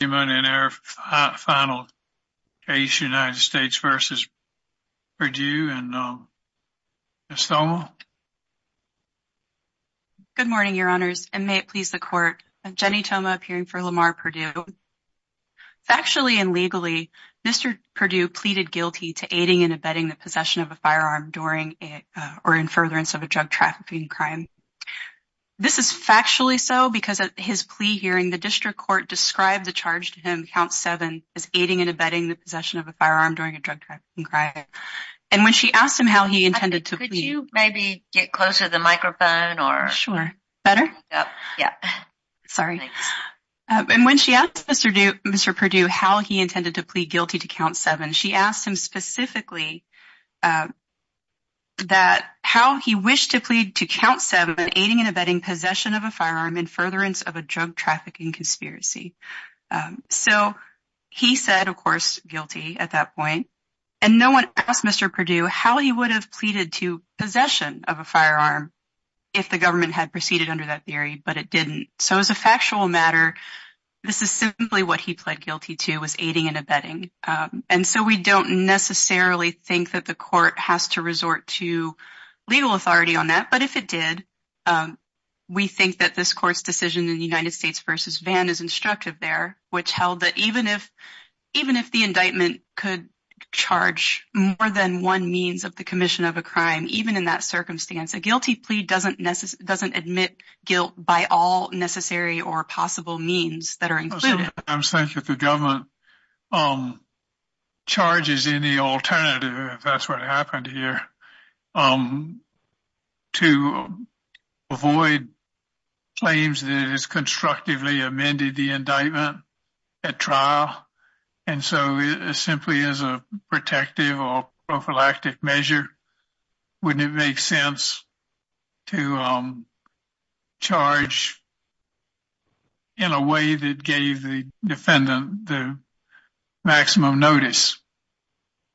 in our final case, United States v. Perdue, and Ms. Thoma. Good morning, your honors, and may it please the court. Jenny Thoma, appearing for Lamar Perdue. Factually and legally, Mr. Perdue pleaded guilty to aiding and abetting the possession of a firearm during or in furtherance of a drug trafficking crime. This is factually so because at his plea hearing, the district court described the charge to him, count seven, as aiding and abetting the possession of a firearm during a drug trafficking crime. And when she asked him how he intended to plead. Could you maybe get closer to the microphone? Sure. Better? Yeah. Sorry. And when she asked Mr. Perdue how he intended to plead guilty to count seven, she asked him specifically that how he wished to plead to count seven, an aiding and abetting possession of a firearm in furtherance of a drug trafficking conspiracy. So he said, of course, guilty at that point. And no one asked Mr. Perdue how he would have pleaded to possession of a firearm if the government had proceeded under that theory. But it didn't. So as a factual matter, this is simply what he pled guilty to was aiding and abetting. And so we don't necessarily think that the court has to resort to legal authority on that. But if it did, we think that this court's decision in the United States versus Vann is instructive there, which held that even if even if the indictment could charge more than one means of the commission of a crime, even in that circumstance, a guilty plea doesn't admit guilt by all necessary or possible means that are included. I'm saying that the government charges any alternative, if that's what happened here, to avoid claims that it is constructively amended the indictment at trial. And so it simply is a protective or prophylactic measure. Wouldn't it make sense to charge in a way that gave the defendant the maximum notice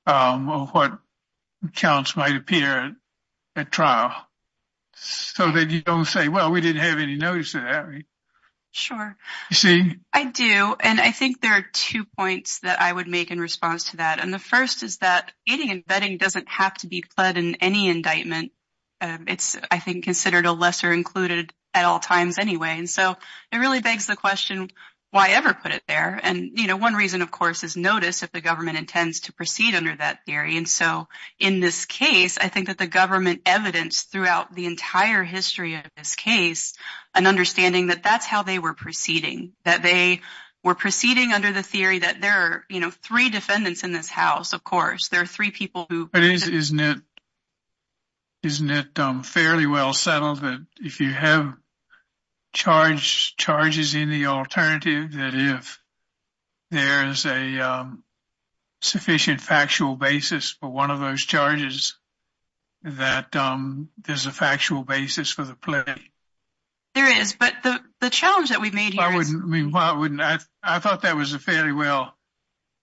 of what counts might appear at trial so that you don't say, well, we didn't have any notice of that? Sure. I do. And I think there are two points that I would make in response to that. And the first is that aiding and abetting doesn't have to be pled in any indictment. It's, I don't know why ever put it there. And one reason, of course, is notice if the government intends to proceed under that theory. And so in this case, I think that the government evidenced throughout the entire history of this case, an understanding that that's how they were proceeding, that they were proceeding under the theory that there are three defendants in this house. Of course, there are three people who- Isn't it fairly well settled that if you have charges in the alternative, that if there is a sufficient factual basis for one of those charges, that there's a factual basis for the plea? There is. But the challenge that we've made here is- I thought that was a fairly well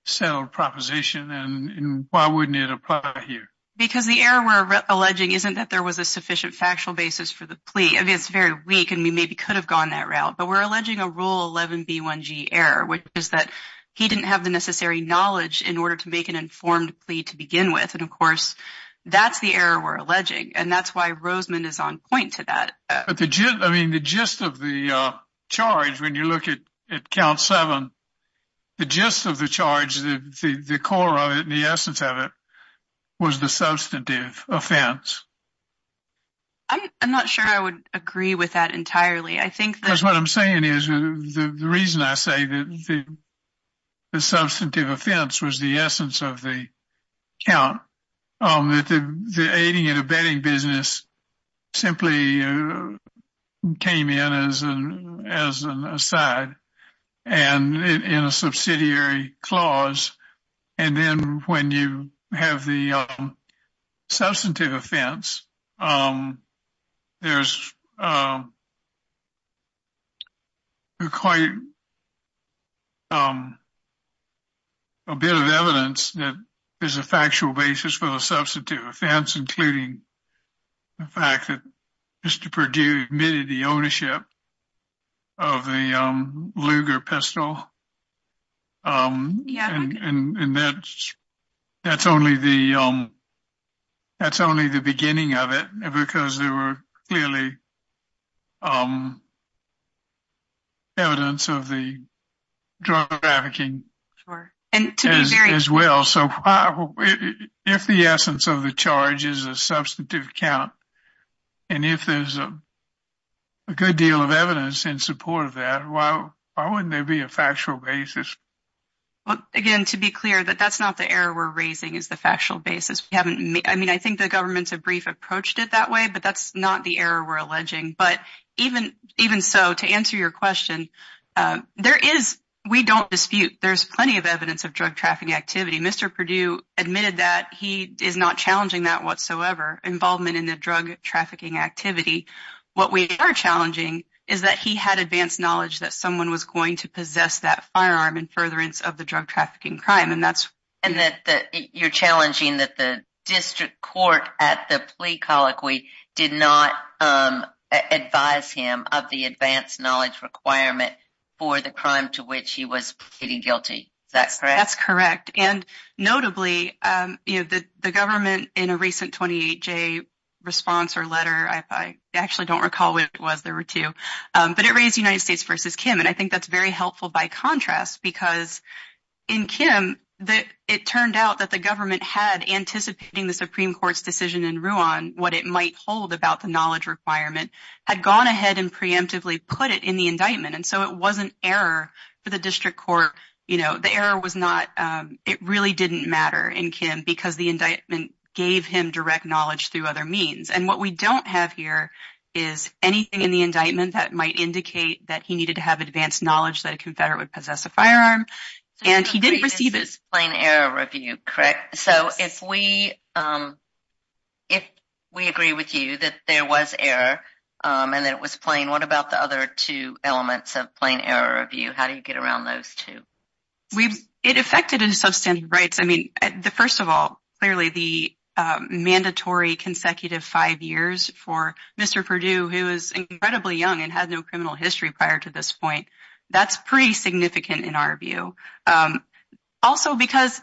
settled proposition. And why wouldn't it apply here? Because the error we're alleging isn't that there was a sufficient factual basis for the plea. I mean, it's very weak, and we maybe could have gone that route. But we're alleging a Rule 11b1g error, which is that he didn't have the necessary knowledge in order to make an informed plea to begin with. And of course, that's the error we're alleging. And that's why Rosemond is on point to that. But the gist, I mean, the gist of the charge, when you look at Count 7, the gist of the charge, the core of it, the essence of it, was the substantive offense. I'm not sure I would agree with that entirely. I think that- Because what I'm saying is, the reason I say that the substantive offense was the essence of the count, that the aiding and abetting business simply came in as an aside, and in clause. And then when you have the substantive offense, there's quite a bit of evidence that there's a factual basis for the substantive offense, including the fact that Mr. Perdue admitted the ownership of the Luger pistol. And that's only the beginning of it, because there were clearly evidence of the drug trafficking as well. So if the essence of the charge is a substantive count, and if there's a good deal of evidence in support of that, why wouldn't there be a factual basis? Well, again, to be clear, that that's not the error we're raising is the factual basis. I mean, I think the government's a brief approached it that way, but that's not the error we're alleging. But even so, to answer your question, there is, we don't dispute, there's plenty of evidence of drug trafficking activity. Mr. Perdue admitted that he is not challenging that whatsoever, involvement in the drug trafficking activity. What we are challenging is that he had advanced knowledge that someone was going to possess that firearm in furtherance of the drug trafficking crime. And that you're challenging that the district court at the plea colloquy did not advise him of the advanced knowledge requirement for the crime to which he was pleading guilty. Is that correct? That's correct. And notably, the government in a recent 28-J response or letter, I actually don't recall what it was, there were two, but it raised United States versus Kim. And I think that's very helpful by contrast, because in Kim, it turned out that the government had, anticipating the Supreme Court's decision in Rouen, what it might hold about the knowledge requirement, had gone ahead and preemptively put it in the indictment. And so it wasn't error for the district court. The error was not, it really didn't matter in Kim, because the indictment gave him direct knowledge through other means. And what we don't have here is anything in the indictment that might indicate that he needed to have advanced knowledge that a confederate would possess a firearm, and he didn't receive it. Plain error review, correct? So if we agree with you that there was error, and that it was plain, what about the other two elements of plain error review? How do you get around those two? It affected his substantive rights. I mean, the first of all, clearly the mandatory consecutive five years for Mr. Perdue, who is incredibly young and had no criminal history prior to this point, that's pretty significant in our view. Also, because,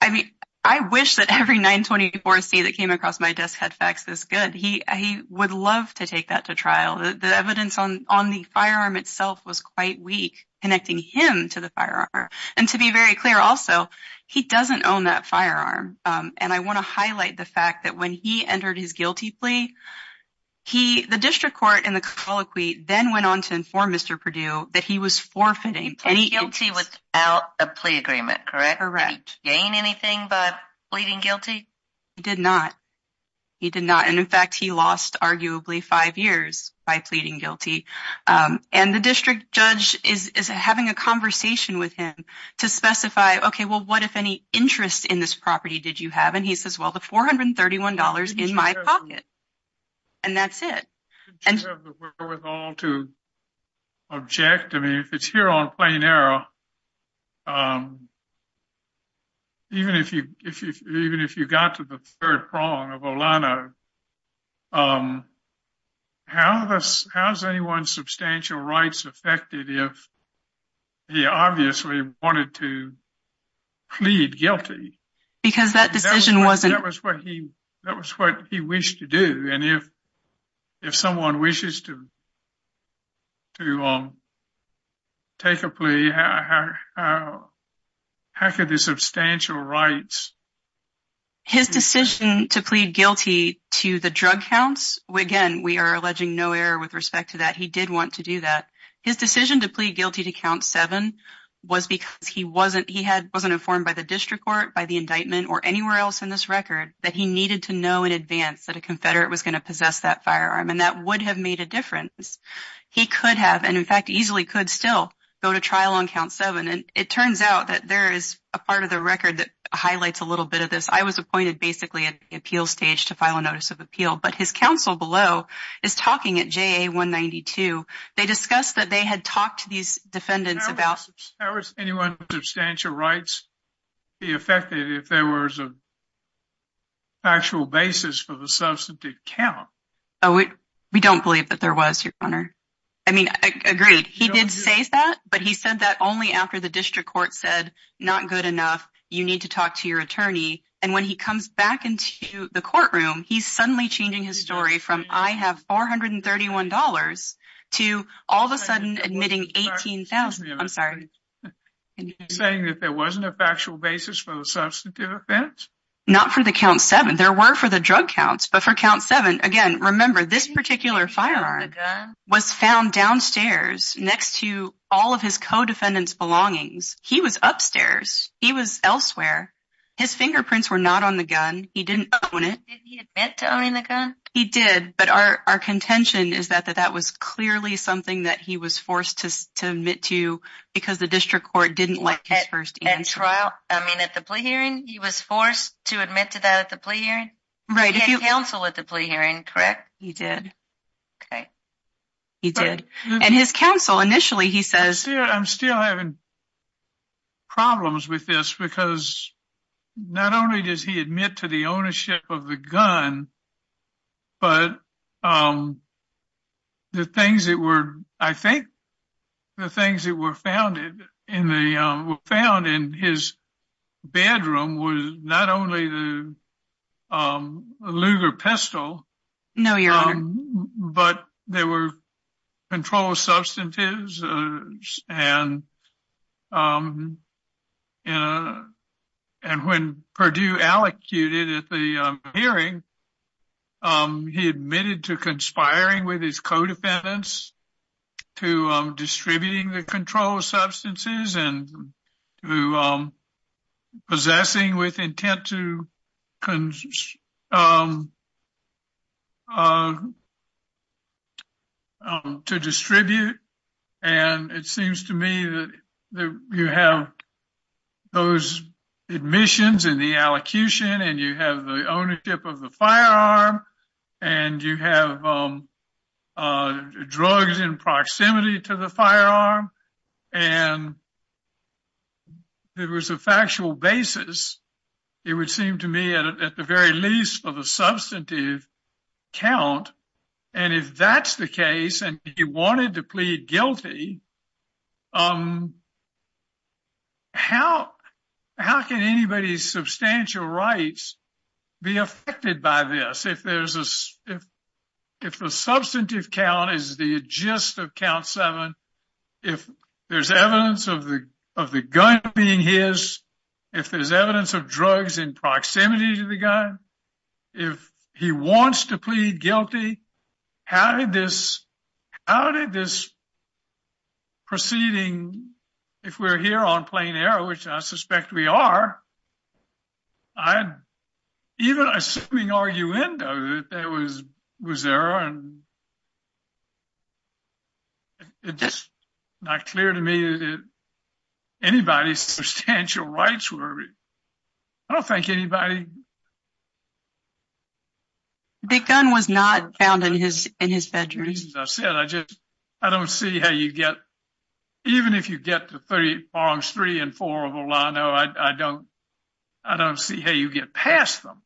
I mean, I wish that every 924C that came across my desk had facts this good. He would love to take that to trial. The evidence on the firearm itself was quite weak, connecting him to the firearm. And to be very clear also, he doesn't own that firearm. And I want to highlight the fact that when he entered his guilty plea, the district court and the colloquy then went on to inform Mr. Perdue that he was forfeiting. He pled guilty without a plea agreement, correct? Correct. Gained anything by pleading guilty? He did not. He did not. And in fact, he lost arguably five years by pleading guilty. And the district judge is having a conversation with him to specify, okay, well, what if any interest in this property did you have? And he says, well, the $431 in my pocket. And that's it. Didn't you have the wherewithal to object? I mean, if it's here on plain error, even if you got to the third prong of Olano, how has anyone's substantial rights affected if he obviously wanted to plead guilty? Because that decision wasn't- How could the substantial rights- His decision to plead guilty to the drug counts, again, we are alleging no error with respect to that. He did want to do that. His decision to plead guilty to count seven was because he wasn't informed by the district court, by the indictment, or anywhere else in this record that he needed to know in advance that a confederate was going to possess that firearm. And that would have made a difference. He could have, and in fact, easily could still go to trial on count seven. And it turns out that there is a part of the record that highlights a little bit of this. I was appointed basically at the appeal stage to file a notice of appeal, but his counsel below is talking at JA-192. They discussed that they had talked to these defendants about- How would anyone's substantial rights be affected if there was a factual basis for the substantive count? We don't believe that there was, your honor. I mean, agreed. He did say that, but he said that only after the district court said, not good enough, you need to talk to your attorney. And when he comes back into the courtroom, he's suddenly changing his story from, I have $431 to all of a sudden admitting 18,000. I'm sorry. Are you saying that there wasn't a factual basis for the substantive offense? Not for the count seven. There were for the drug counts, but for count seven, again, remember this particular firearm was found downstairs next to all of his co-defendants' belongings. He was upstairs. He was elsewhere. His fingerprints were not on the gun. He didn't own it. Didn't he admit to owning the gun? He did. But our contention is that that was clearly something that he was forced to admit to because the district court didn't like his first answer. I mean, at the plea hearing, he was forced to admit to that at the plea hearing? Right. He had counsel at the plea hearing, correct? He did. Okay. He did. And his counsel, initially, he says- I'm still having problems with this because not only does he admit to the ownership of the gun, but the things that were, I think, the things that were found in his bedroom was not only the Luger pistol- No, Your Honor. But there were controlled substances. And when Perdue allocated at the hearing, he admitted to conspiring with his co-defendants to distributing the controlled substances and to possessing with intent to distribute. And it seems to me that you have those admissions and the allocution, and you have the ownership of the firearm, and you have drugs in proximity to the firearm, and there was a factual basis, it would seem to me, at the very least, of a substantive count. And if that's the case, and he wanted to plead guilty, how can anybody's substantial rights be affected by this? If the substantive count is the gist of being his, if there's evidence of drugs in proximity to the gun, if he wants to plead guilty, how did this- how did this proceeding, if we're here on plain error, which I suspect we are, even assuming arguendo, that there was error, and not clear to me that anybody's substantial rights were- I don't think anybody- The gun was not found in his bedroom. As I said, I just- I don't see how you get- even if you get to 3- Arms 3 and 4 of Olano, I don't- I don't see how you get past them.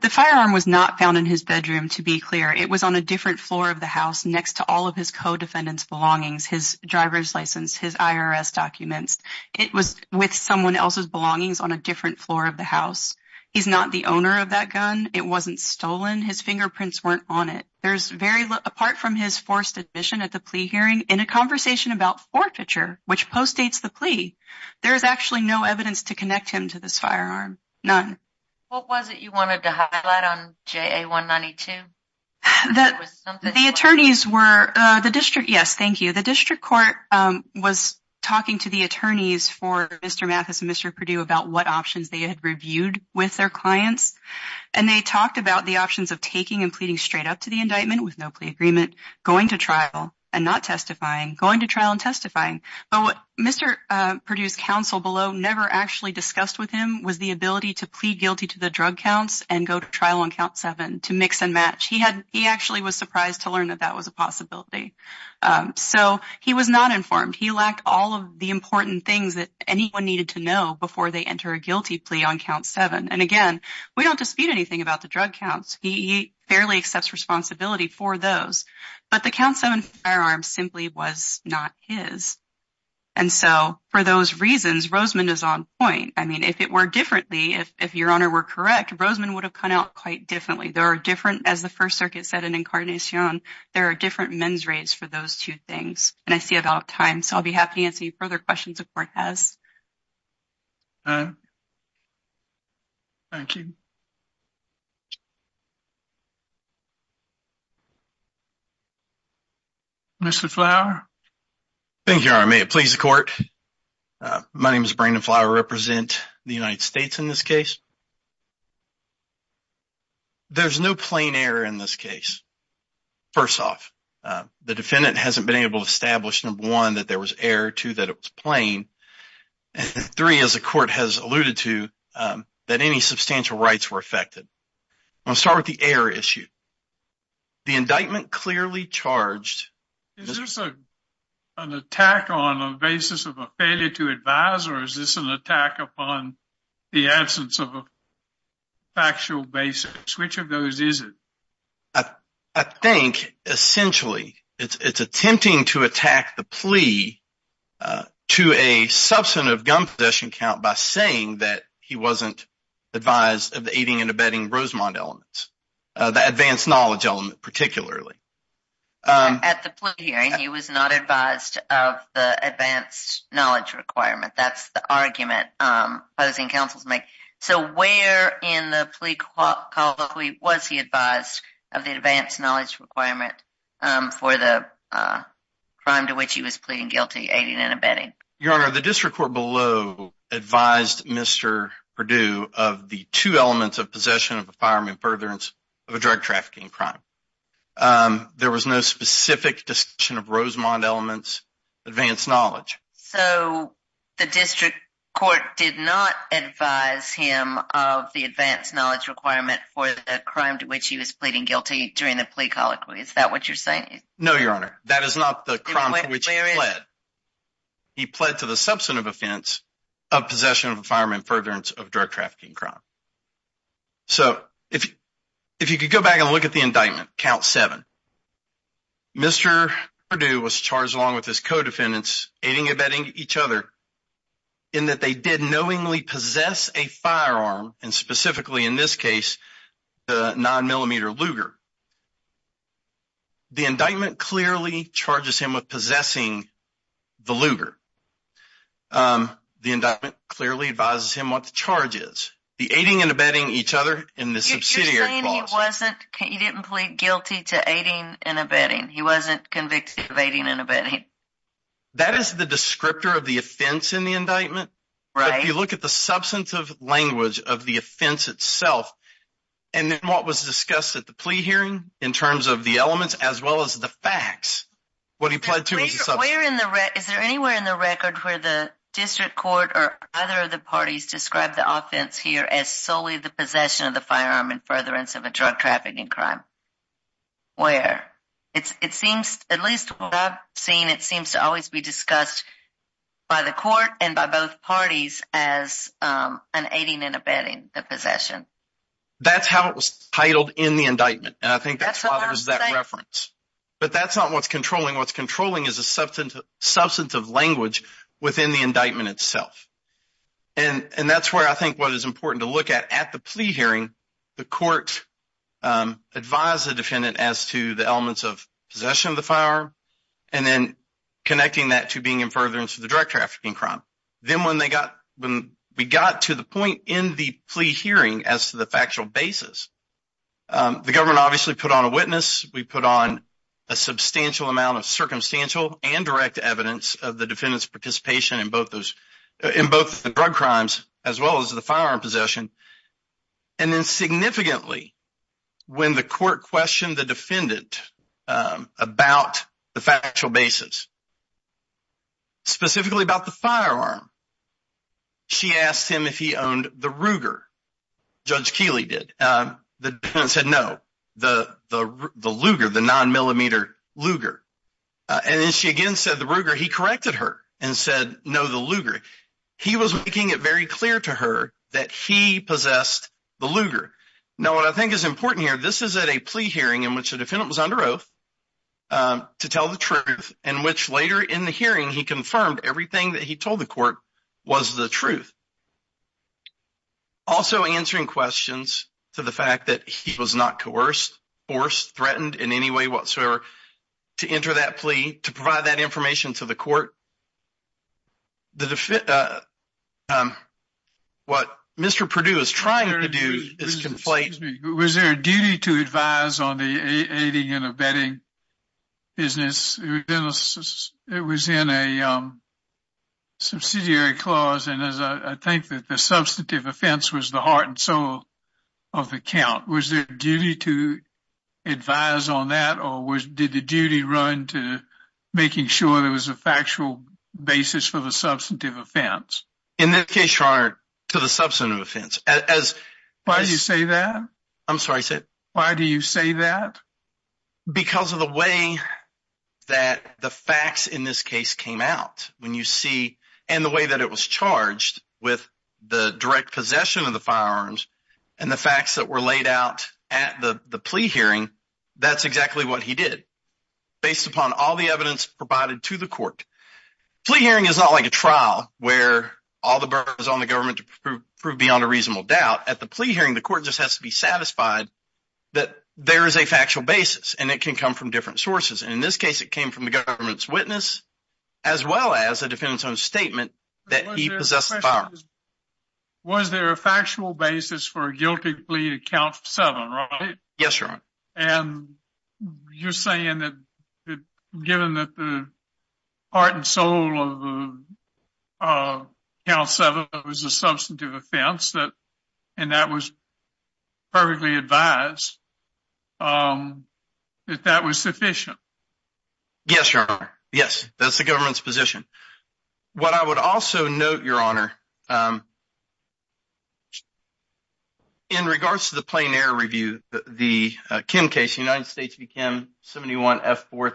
The firearm was not found in his bedroom, to be clear. It was on a different floor of the house next to all of his co-defendant's belongings, his driver's license, his IRS documents. It was with someone else's belongings on a different floor of the house. He's not the owner of that gun. It wasn't stolen. His fingerprints weren't on it. There's very- apart from his forced admission at the plea hearing, in a conversation about forfeiture, which postdates the plea, there is actually no evidence to connect him to this firearm. None. What was it you wanted to highlight on JA-192? The attorneys were- the district- yes, thank you. The district court was talking to the attorneys for Mr. Mathis and Mr. Perdue about what options they had reviewed with their clients, and they talked about the options of taking and pleading straight up to the indictment with no plea agreement, going to trial and not testifying, going to trial and testifying. But what Mr. Perdue's counsel below never actually discussed with him was the ability to plead guilty to the to mix and match. He had- he actually was surprised to learn that that was a possibility. So he was not informed. He lacked all of the important things that anyone needed to know before they enter a guilty plea on count seven. And again, we don't dispute anything about the drug counts. He fairly accepts responsibility for those. But the count seven firearm simply was not his. And so for those reasons, Rosemond is on point. I mean, if it were differently, if your honor were correct, Rosemond would have come out quite differently. There are different, as the First Circuit said in Incarnation, there are different men's rates for those two things. And I see about time, so I'll be happy to answer any further questions the court has. Thank you. Mr. Flower? Thank you, Your Honor. May it please the court. My name is Brandon Flower. I represent the United States in this case. There's no plain error in this case. First off, the defendant hasn't been able to establish, number one, that there was error, two, that it was plain, and three, as the court has alluded to, that any substantial rights were affected. I'll start with the error issue. The indictment clearly charged... Is this an attack on a basis of a failure to advise, or is this an attack upon the absence of a factual basis? Which of those is it? I think, essentially, it's attempting to attack the plea to a substantive gun possession count by saying that he wasn't advised of the aiding and abetting Rosemont elements, the advanced knowledge element particularly. At the plea hearing, he was not advised of the advanced knowledge requirement. That's the argument opposing counsels make. So where in the plea call was he advised of the advanced knowledge requirement for the crime to which he was pleading guilty, aiding and abetting? Your Honor, the district court below advised Mr. Perdue of the two elements of possession of a firearm in furtherance of a drug trafficking crime. There was no specific discussion of Rosemont elements, advanced knowledge. So the district court did not advise him of the advanced knowledge requirement for the crime to which he was pleading guilty during the plea call? Is that what you're saying? No, Your Honor. That is not the crime to which he pled. He pled to the substantive offense of possession of a firearm in furtherance of drug trafficking crime. So if you could go back and look at the indictment, count seven, Mr. Perdue was charged along with his co-defendants aiding and abetting each other in that they did knowingly a firearm and specifically in this case the nine millimeter Luger. The indictment clearly charges him with possessing the Luger. The indictment clearly advises him what the charge is. The aiding and abetting each other in the subsidiary clause. You're saying he wasn't, he didn't plead guilty to aiding and abetting. He wasn't convicted of aiding and abetting. That is the descriptor of the offense in the indictment. Right. If you look at the substantive language of the offense itself and then what was discussed at the plea hearing in terms of the elements as well as the facts, what he pled to. Is there anywhere in the record where the district court or other of the parties describe the offense here as solely the possession of the firearm in furtherance of a drug trafficking crime? Where? It seems, at least what I've seen, it seems to always be discussed by the court and by both parties as an aiding and abetting the possession. That's how it was titled in the indictment and I think that's why there's that reference. But that's not what's controlling. What's controlling is a substantive language within the indictment itself and that's where I think what is important to look at at the plea hearing. The court advised the defendant as to the elements of possession of the firearm and then connecting that to being in furtherance of the drug trafficking crime. Then when they got, when we got to the point in the plea hearing as to the factual basis, the government obviously put on a witness. We put on a substantial amount of circumstantial and direct evidence of the defendant's participation in both those, in both the drug crimes as well as the firearm possession. And then significantly when the court questioned the defendant about the factual basis, specifically about the firearm, she asked him if he owned the Ruger. Judge Keeley did. The defendant said no, the Luger, the nine millimeter Luger. And then she again said the Ruger. He corrected her and said no, the Luger. He was making it very clear to her that he possessed the Luger. Now what I think is important here, this is at a plea hearing in which the defendant was under oath to tell the truth, in which later in the hearing he confirmed everything that he told the court was the truth. Also answering questions to the fact that he was not coerced, forced, threatened in any way whatsoever to enter that plea, to provide that information to the court. What Mr. Perdue is was there a duty to advise on the aiding and abetting business? It was in a subsidiary clause and as I think that the substantive offense was the heart and soul of the count. Was there a duty to advise on that or did the duty run to making sure there was a factual basis for the substantive offense? In this case, your honor, to the substantive offense. Why do you say that? Because of the way that the facts in this case came out when you see and the way that it was charged with the direct possession of the firearms and the facts that were laid out at the plea hearing, that's exactly what he did. Based upon all the evidence provided to the court. Plea hearing is not like a trial where all the burden is on the government to prove beyond a reasonable doubt. At the plea hearing, the court just has to be satisfied that there is a factual basis and it can come from different sources. In this case, it came from the government's witness as well as a defendant's own statement that he possessed the firearms. Was there a factual basis for a guilty plea to count seven, right? Yes, your honor. And you're sold on the count seven. It was a substantive offense that and that was perfectly advised that that was sufficient. Yes, your honor. Yes, that's the government's position. What I would also note, your honor, in regards to the plein air review, the Kim case, the United States became 71 F fourth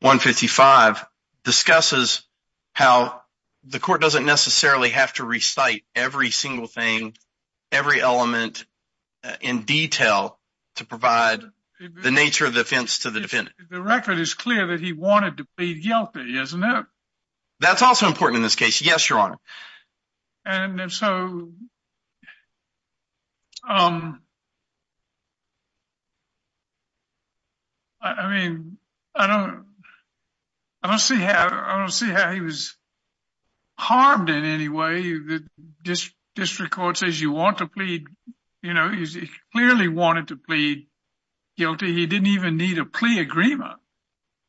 155 discusses how the court doesn't necessarily have to recite every single thing, every element in detail to provide the nature of the offense to the defendant. The record is clear that he wanted to plead guilty, isn't it? That's also important in this case. Yes, your honor. And so um, I mean, I don't, I don't see how I don't see how he was harmed in any way that this district court says you want to plead. You know, he clearly wanted to plead guilty. He didn't even need a plea agreement,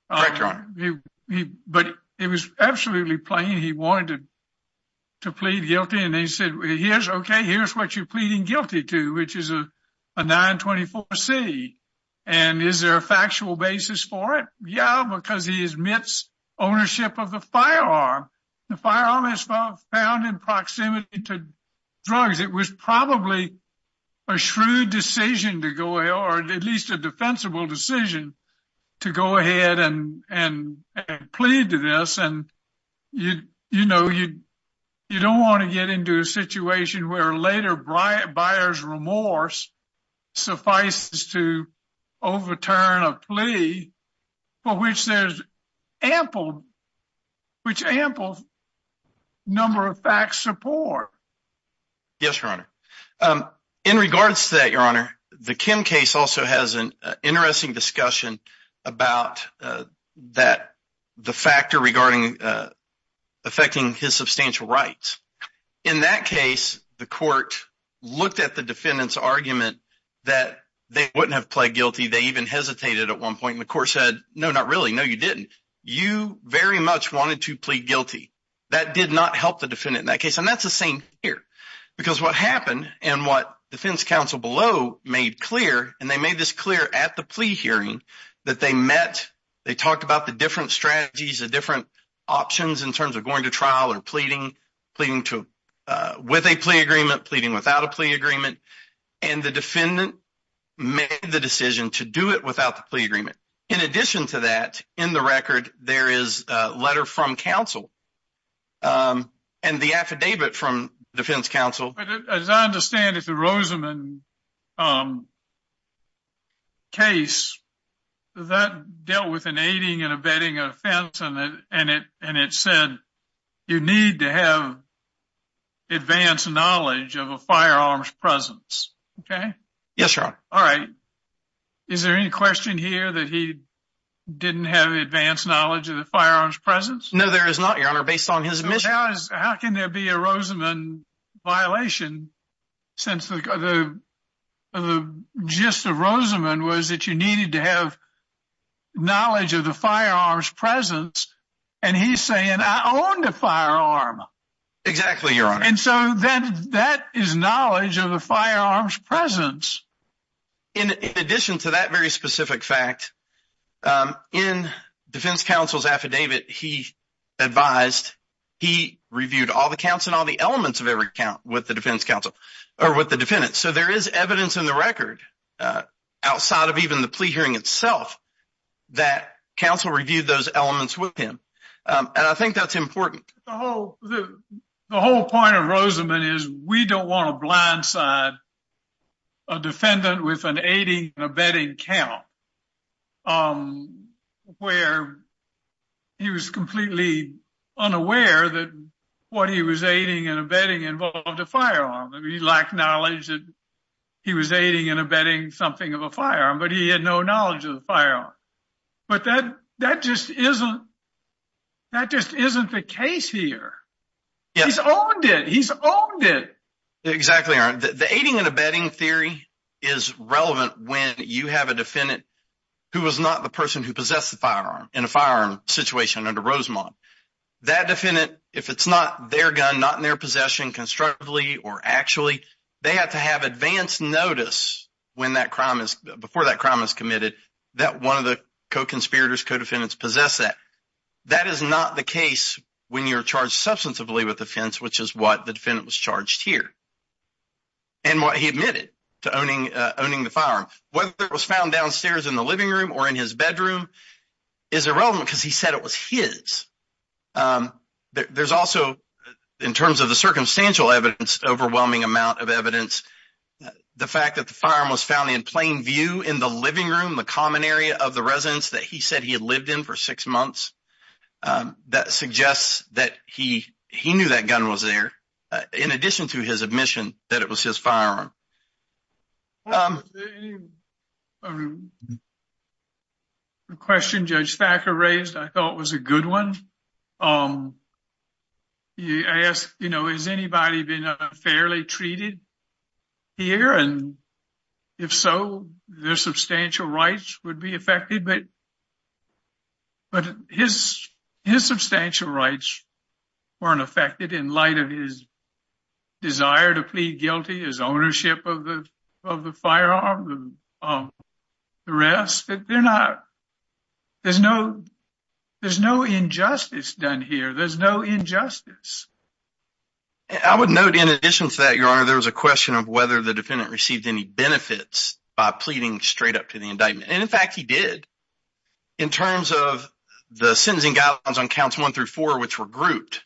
but it was absolutely plain. He wanted to here's okay, here's what you're pleading guilty to, which is a 924 C. And is there a factual basis for it? Yeah, because he is mits ownership of the firearm. The firearm is found in proximity to drugs. It was probably a shrewd decision to go ahead or at least a defensible decision to go ahead and and plead to this. And, you know, you don't want to get into a situation where later bright buyers remorse suffices to overturn a plea for which there's ample, which ample number of facts support. Yes, your honor. Um, in regards to that, your honor, the Kim case also has an interesting discussion about, uh, that the factor regarding, uh, affecting his substantial rights. In that case, the court looked at the defendant's argument that they wouldn't have pled guilty. They even hesitated at one point in the court said, no, not really. No, you didn't. You very much wanted to plead guilty. That did not help the defendant in that case. And that's the same here because what happened and what defense counsel below made clear and they made this clear at the plea hearing that they met, they talked about the different strategies of different options in terms of going to trial or pleading, pleading to with a plea agreement, pleading without a plea agreement. And the defendant made the decision to do it without the plea agreement. In addition to that, in the record, there is a letter from um, case that dealt with an aiding and abetting offense on it. And it, and it said, you need to have advanced knowledge of a firearms presence. Okay. Yes, sir. All right. Is there any question here that he didn't have advanced knowledge of the firearms presence? No, there is not, your honor. Based on his mission, how can there be a Rosenman violation since the, the, the gist of Roseman was that you needed to have knowledge of the firearms presence and he's saying, I owned a firearm. Exactly, your honor. And so then that is knowledge of the firearms presence. In addition to that very specific fact, um, in defense counsel's affidavit, he advised, he reviewed all the counts and all the elements of every count with the defense counsel or with the defendant. So there is evidence in the record, uh, outside of even the plea hearing itself, that counsel reviewed those elements with him. Um, and I think that's important. The whole point of Roseman is we don't want to blindside a defendant with an aiding and abetting count, um, where he was completely unaware that what he was aiding and abetting involved a firearm. I mean, he lacked knowledge that he was aiding and abetting something of a firearm, but he had no knowledge of the firearm. But that, that just isn't, that just isn't the case here. Yes. He's owned it. He's owned it. Exactly, your honor. The aiding and abetting theory is relevant when you have a defendant who was not the person who possessed the firearm in a firearm situation under Roseman. That defendant, if it's not their gun, not in their possession, constructively or actually, they have to have advanced notice when that crime is, before that crime is committed, that one of the co-conspirators, co-defendants possess that. That is not the case when you're charged substantively with offense, which is what the defendant was charged here and what he admitted to owning, uh, owning the firearm. Whether it was found downstairs in the living room or in his bedroom is irrelevant because he said it was his. Um, there's also, in terms of the circumstantial evidence, overwhelming amount of evidence, the fact that the firearm was found in plain view in the living room, the common area of the residence that he said he had lived in for six months, um, that suggests that he, he knew that gun was there, uh, in addition to his admission that it was his firearm. Um, um, a question Judge Thacker raised I thought was a good one. Um, I asked, you know, has anybody been, uh, fairly treated here? And if so, their substantial rights would be affected, but, but his, his substantial rights weren't affected in light of his desire to plead guilty, his ownership of the, of the firearm, of the rest. There's no, there's no injustice done here. There's no injustice. I would note in addition to that, Your Honor, there was a question of whether the defendant received any benefits by pleading straight up to the indictment. And in fact, he did in terms of the sentencing guidelines on counts one through four, which were grouped.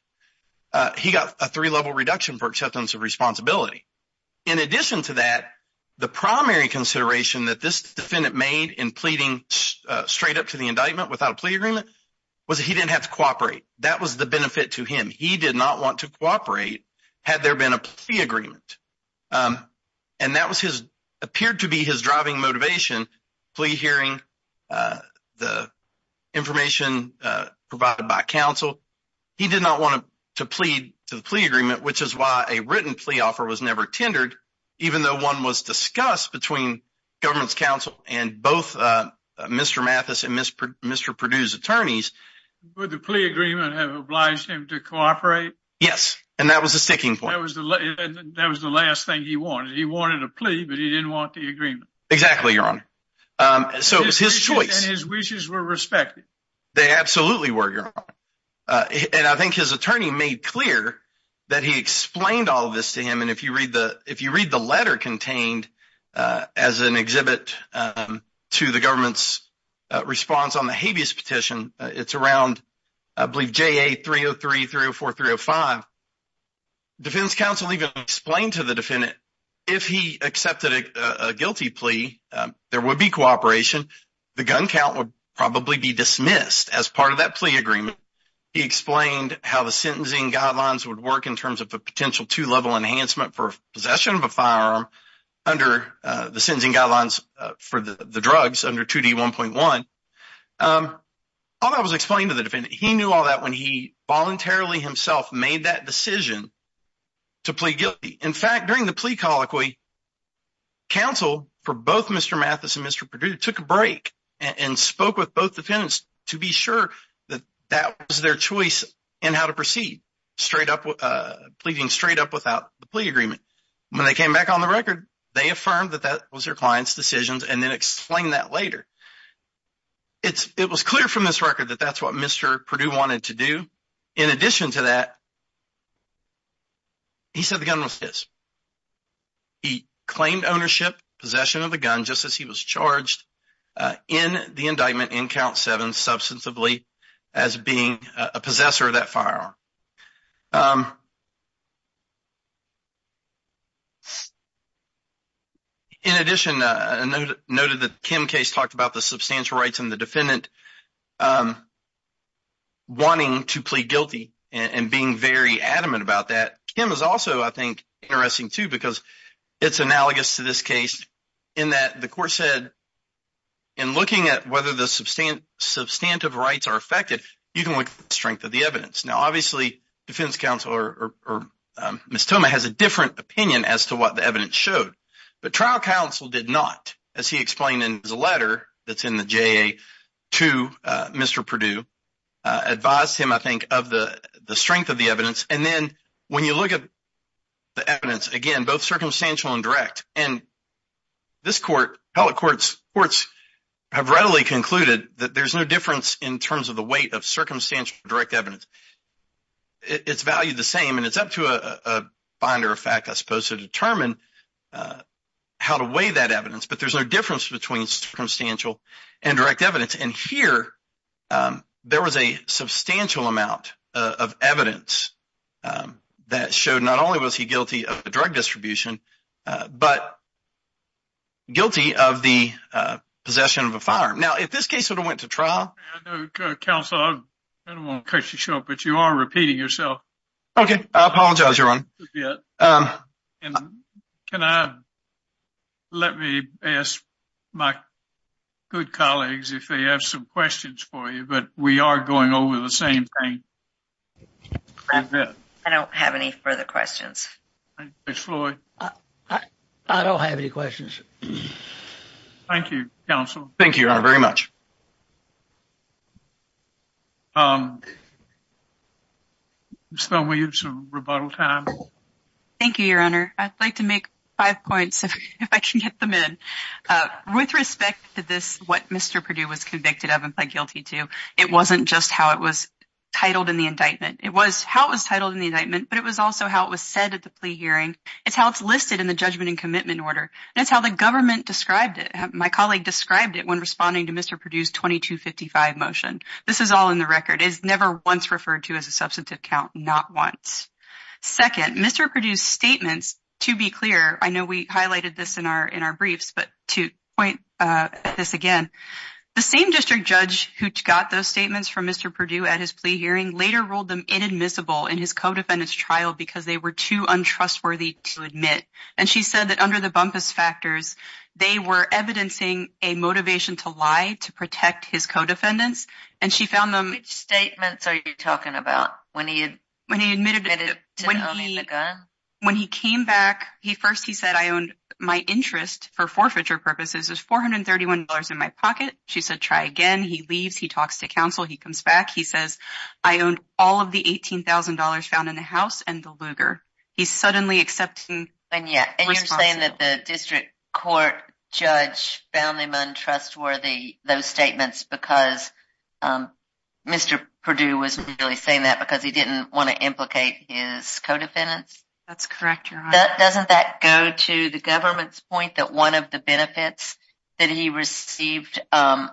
He got a three level reduction for acceptance of responsibility. In addition to that, the primary consideration that this defendant made in pleading straight up to the indictment without a plea agreement was that he didn't have to cooperate. That was the benefit to him. He did not want to cooperate had there been a plea agreement. Um, and that was his, appeared to be his driving motivation, plea hearing, uh, the information, uh, provided by counsel. He did not want to plead to the plea agreement, which is why a written plea offer was never tendered, even though one was discussed between government's counsel and both, uh, Mr. Mathis and Mr. Perdue's attorneys. Would the plea agreement have obliged him to cooperate? Yes. And that was the sticking point. That was the last thing he wanted. He wanted a plea, but he didn't want the agreement. Exactly, Your Honor. Um, so it was his choice and his wishes were respected. They absolutely were, Your Honor. Uh, and I think his attorney made clear that he explained all of this to him. And if you read the, if you read the letter contained, uh, as an exhibit, um, to the government's response on the habeas petition, it's around, I believe, JA 303, 304, 305. Defendant's counsel even explained to the defendant if he accepted a guilty plea, there would be cooperation. The gun count would probably be dismissed as part of that plea agreement. He explained how the sentencing guidelines would work in terms of a potential two-level enhancement for possession of a firearm under the sentencing guidelines for the drugs under 2D1.1. Um, all that was explained to the defendant. He knew all that when he voluntarily himself made that decision to plead guilty. In fact, during the plea colloquy, counsel for both Mr. Mathis and Mr. Perdue took a break and spoke with both defendants to be sure that that was their choice in how to proceed, straight up, uh, pleading straight up without the plea agreement. When they came back on the record, they affirmed that that was their client's decisions and then explained that later. It's, it was clear from this record that that's what Mr. Perdue wanted to do. In addition to that, he said the gun was his. He claimed ownership, possession of the gun, just as he was charged, uh, in the indictment in count seven, substantively as being a possessor of that firearm. Um, in addition, uh, I noted that Kim's case talked about the substantial rights and the defendant, um, wanting to plead guilty and being very adamant about that. Kim is also, I think, interesting too because it's analogous to this case in that the court said in looking at substantive rights are affected, you can look at the strength of the evidence. Now, obviously, defense counsel or, or, um, Ms. Thoma has a different opinion as to what the evidence showed, but trial counsel did not, as he explained in his letter that's in the JA to, uh, Mr. Perdue, uh, advised him, I think, of the, the strength of the evidence. And then when you look at the evidence, again, both circumstantial and direct, and this court, appellate courts, courts have readily concluded that there's no difference in terms of the weight of circumstantial direct evidence. It's valued the same and it's up to a, a binder of fact, I suppose, to determine, uh, how to weigh that evidence, but there's no difference between circumstantial and direct evidence. And here, um, there was a substantial amount of evidence, um, that showed not only was the, uh, possession of a firearm. Now, if this case sort of went to trial. I know, counsel, I don't want to cut you short, but you are repeating yourself. Okay. I apologize, Your Honor. And can I, let me ask my good colleagues if they have some questions for you, but we are going over the same thing. I don't have any further questions. Ms. Floyd. I don't have any questions. Thank you, counsel. Thank you, Your Honor, very much. Um, Ms. Thelma, you have some rebuttal time. Thank you, Your Honor. I'd like to make five points if I can get them in, uh, with respect to this, what Mr. Perdue was convicted of and pled guilty to, it wasn't just how it was titled in the indictment. It was how it was titled in the indictment, but it was also how it was said at the plea hearing. It's how it's listed in the judgment and commitment order. And that's how the government described it. My colleague described it when responding to Mr. Perdue's 2255 motion. This is all in the record. It's never once referred to as a substantive count, not once. Second, Mr. Perdue's statements, to be clear, I know we highlighted this in our, in our briefs, but to point this again, the same district judge who got those statements from Mr. Perdue at his plea hearing later ruled them inadmissible in his co-defendant's trial because they were too untrustworthy to admit. And she said that under the bumpest factors, they were evidencing a motivation to lie to protect his co-defendants. And she found them... Which statements are you talking about? When he admitted to owning the gun? When he came back, he first, he said, I owned my interest for forfeiture purposes is $431 in my pocket. She said, try again. He leaves. He talks to counsel. He comes back. He says, I owned all of the $18,000 found in the house and the Lugar. He's suddenly accepting responsibility. And you're saying that the district court judge found them untrustworthy, those statements, because Mr. Perdue was really saying that because he didn't want to implicate his co-defendants? That's correct, Your Honor. Doesn't that go to the government's point that one of the benefits that he received by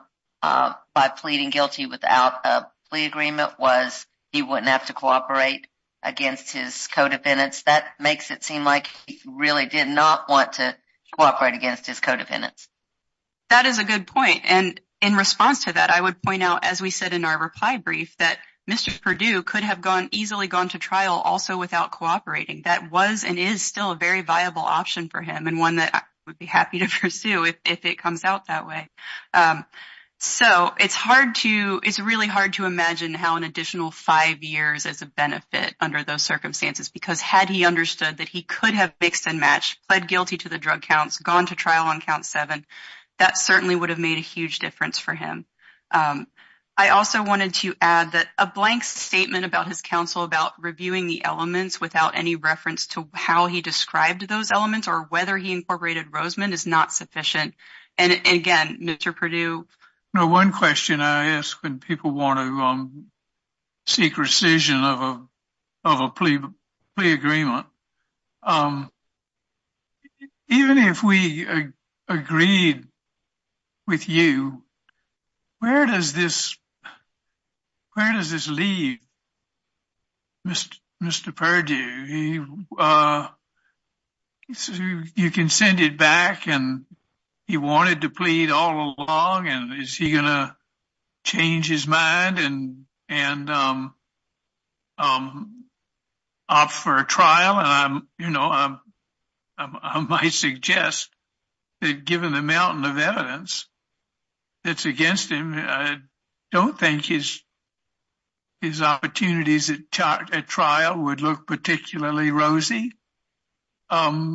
pleading without a plea agreement was he wouldn't have to cooperate against his co-defendants? That makes it seem like he really did not want to cooperate against his co-defendants. That is a good point. And in response to that, I would point out, as we said in our reply brief, that Mr. Perdue could have easily gone to trial also without cooperating. That was and is still a very viable option for him and one that I would be happy to pursue if it comes out that way. So it's really hard to imagine how an additional five years is a benefit under those circumstances, because had he understood that he could have mixed and matched, pled guilty to the drug counts, gone to trial on count seven, that certainly would have made a huge difference for him. I also wanted to add that a blank statement about his counsel about reviewing the elements without any reference to how he described those elements or whether he incorporated Roseman is not sufficient. And again, Mr. Perdue. Now, one question I ask when people want to seek rescission of a plea agreement, even if we agreed with you, where does this leave Mr. Perdue? He says you can send it back and he wanted to plead all along. And is he going to change his mind and opt for a trial? And I might suggest that given the mountain of evidence that's against him, I don't think his opportunities at trial would look particularly rosy. I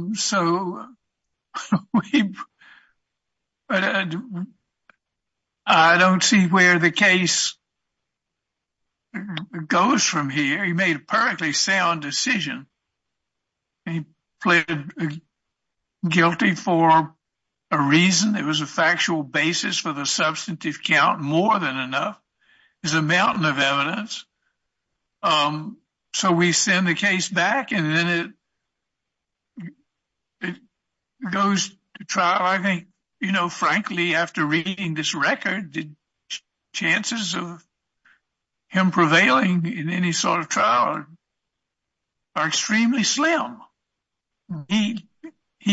don't see where the case goes from here. He made a perfectly sound decision. He pleaded guilty for a reason. It was a factual basis for the substantive count, more than enough is a mountain of evidence. So we send the case back and then it goes to trial. I think, frankly, after reading this record, the chances of him prevailing in any sort of trial are extremely slim. He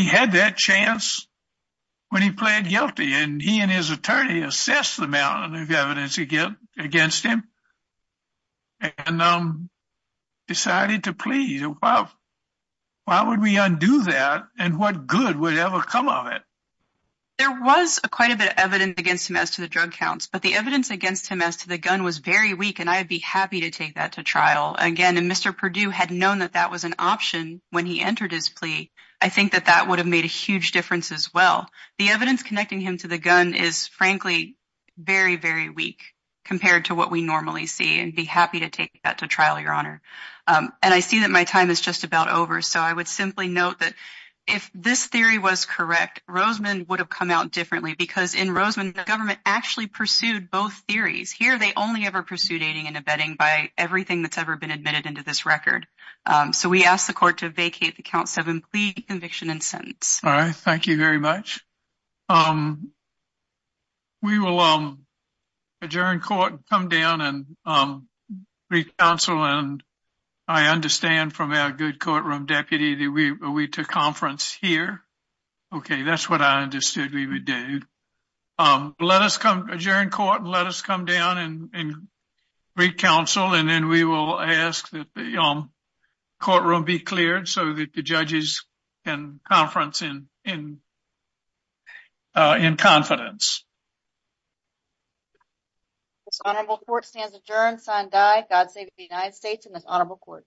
had that chance when he pled guilty and he and his attorney assessed the mountain of evidence against him and decided to plead. Why would we undo that and what good would ever come of it? There was quite a bit of evidence against him as to the drug counts, but the evidence against him as to the gun was very weak. And I'd be happy to take that to trial again. And Mr. Perdue had known that that was an option when he entered his plea. I think that that would have made a huge difference as well. The evidence connecting him to the gun is, frankly, very, very weak compared to what we normally see and be happy to take that to trial, Your Honor. And I see that my time is just about over. So I would simply note that if this theory was correct, Roseman would have come out differently because in Roseman, the government actually pursued both theories. Here, they only ever pursued aiding and abetting by everything that's ever been admitted into this record. So we ask the court to vacate the count seven plea conviction and sentence. All right. Thank you very much. We will adjourn court, come down and re-counsel. And I understand from our good courtroom deputy that we took conference here. Okay. That's what I understood we would do. Adjourn court and let us come down and re-counsel. And then we will ask that the courtroom be cleared so that the judges can conference in confidence. This honorable court stands adjourned, sign die, God save the United States and this honorable court.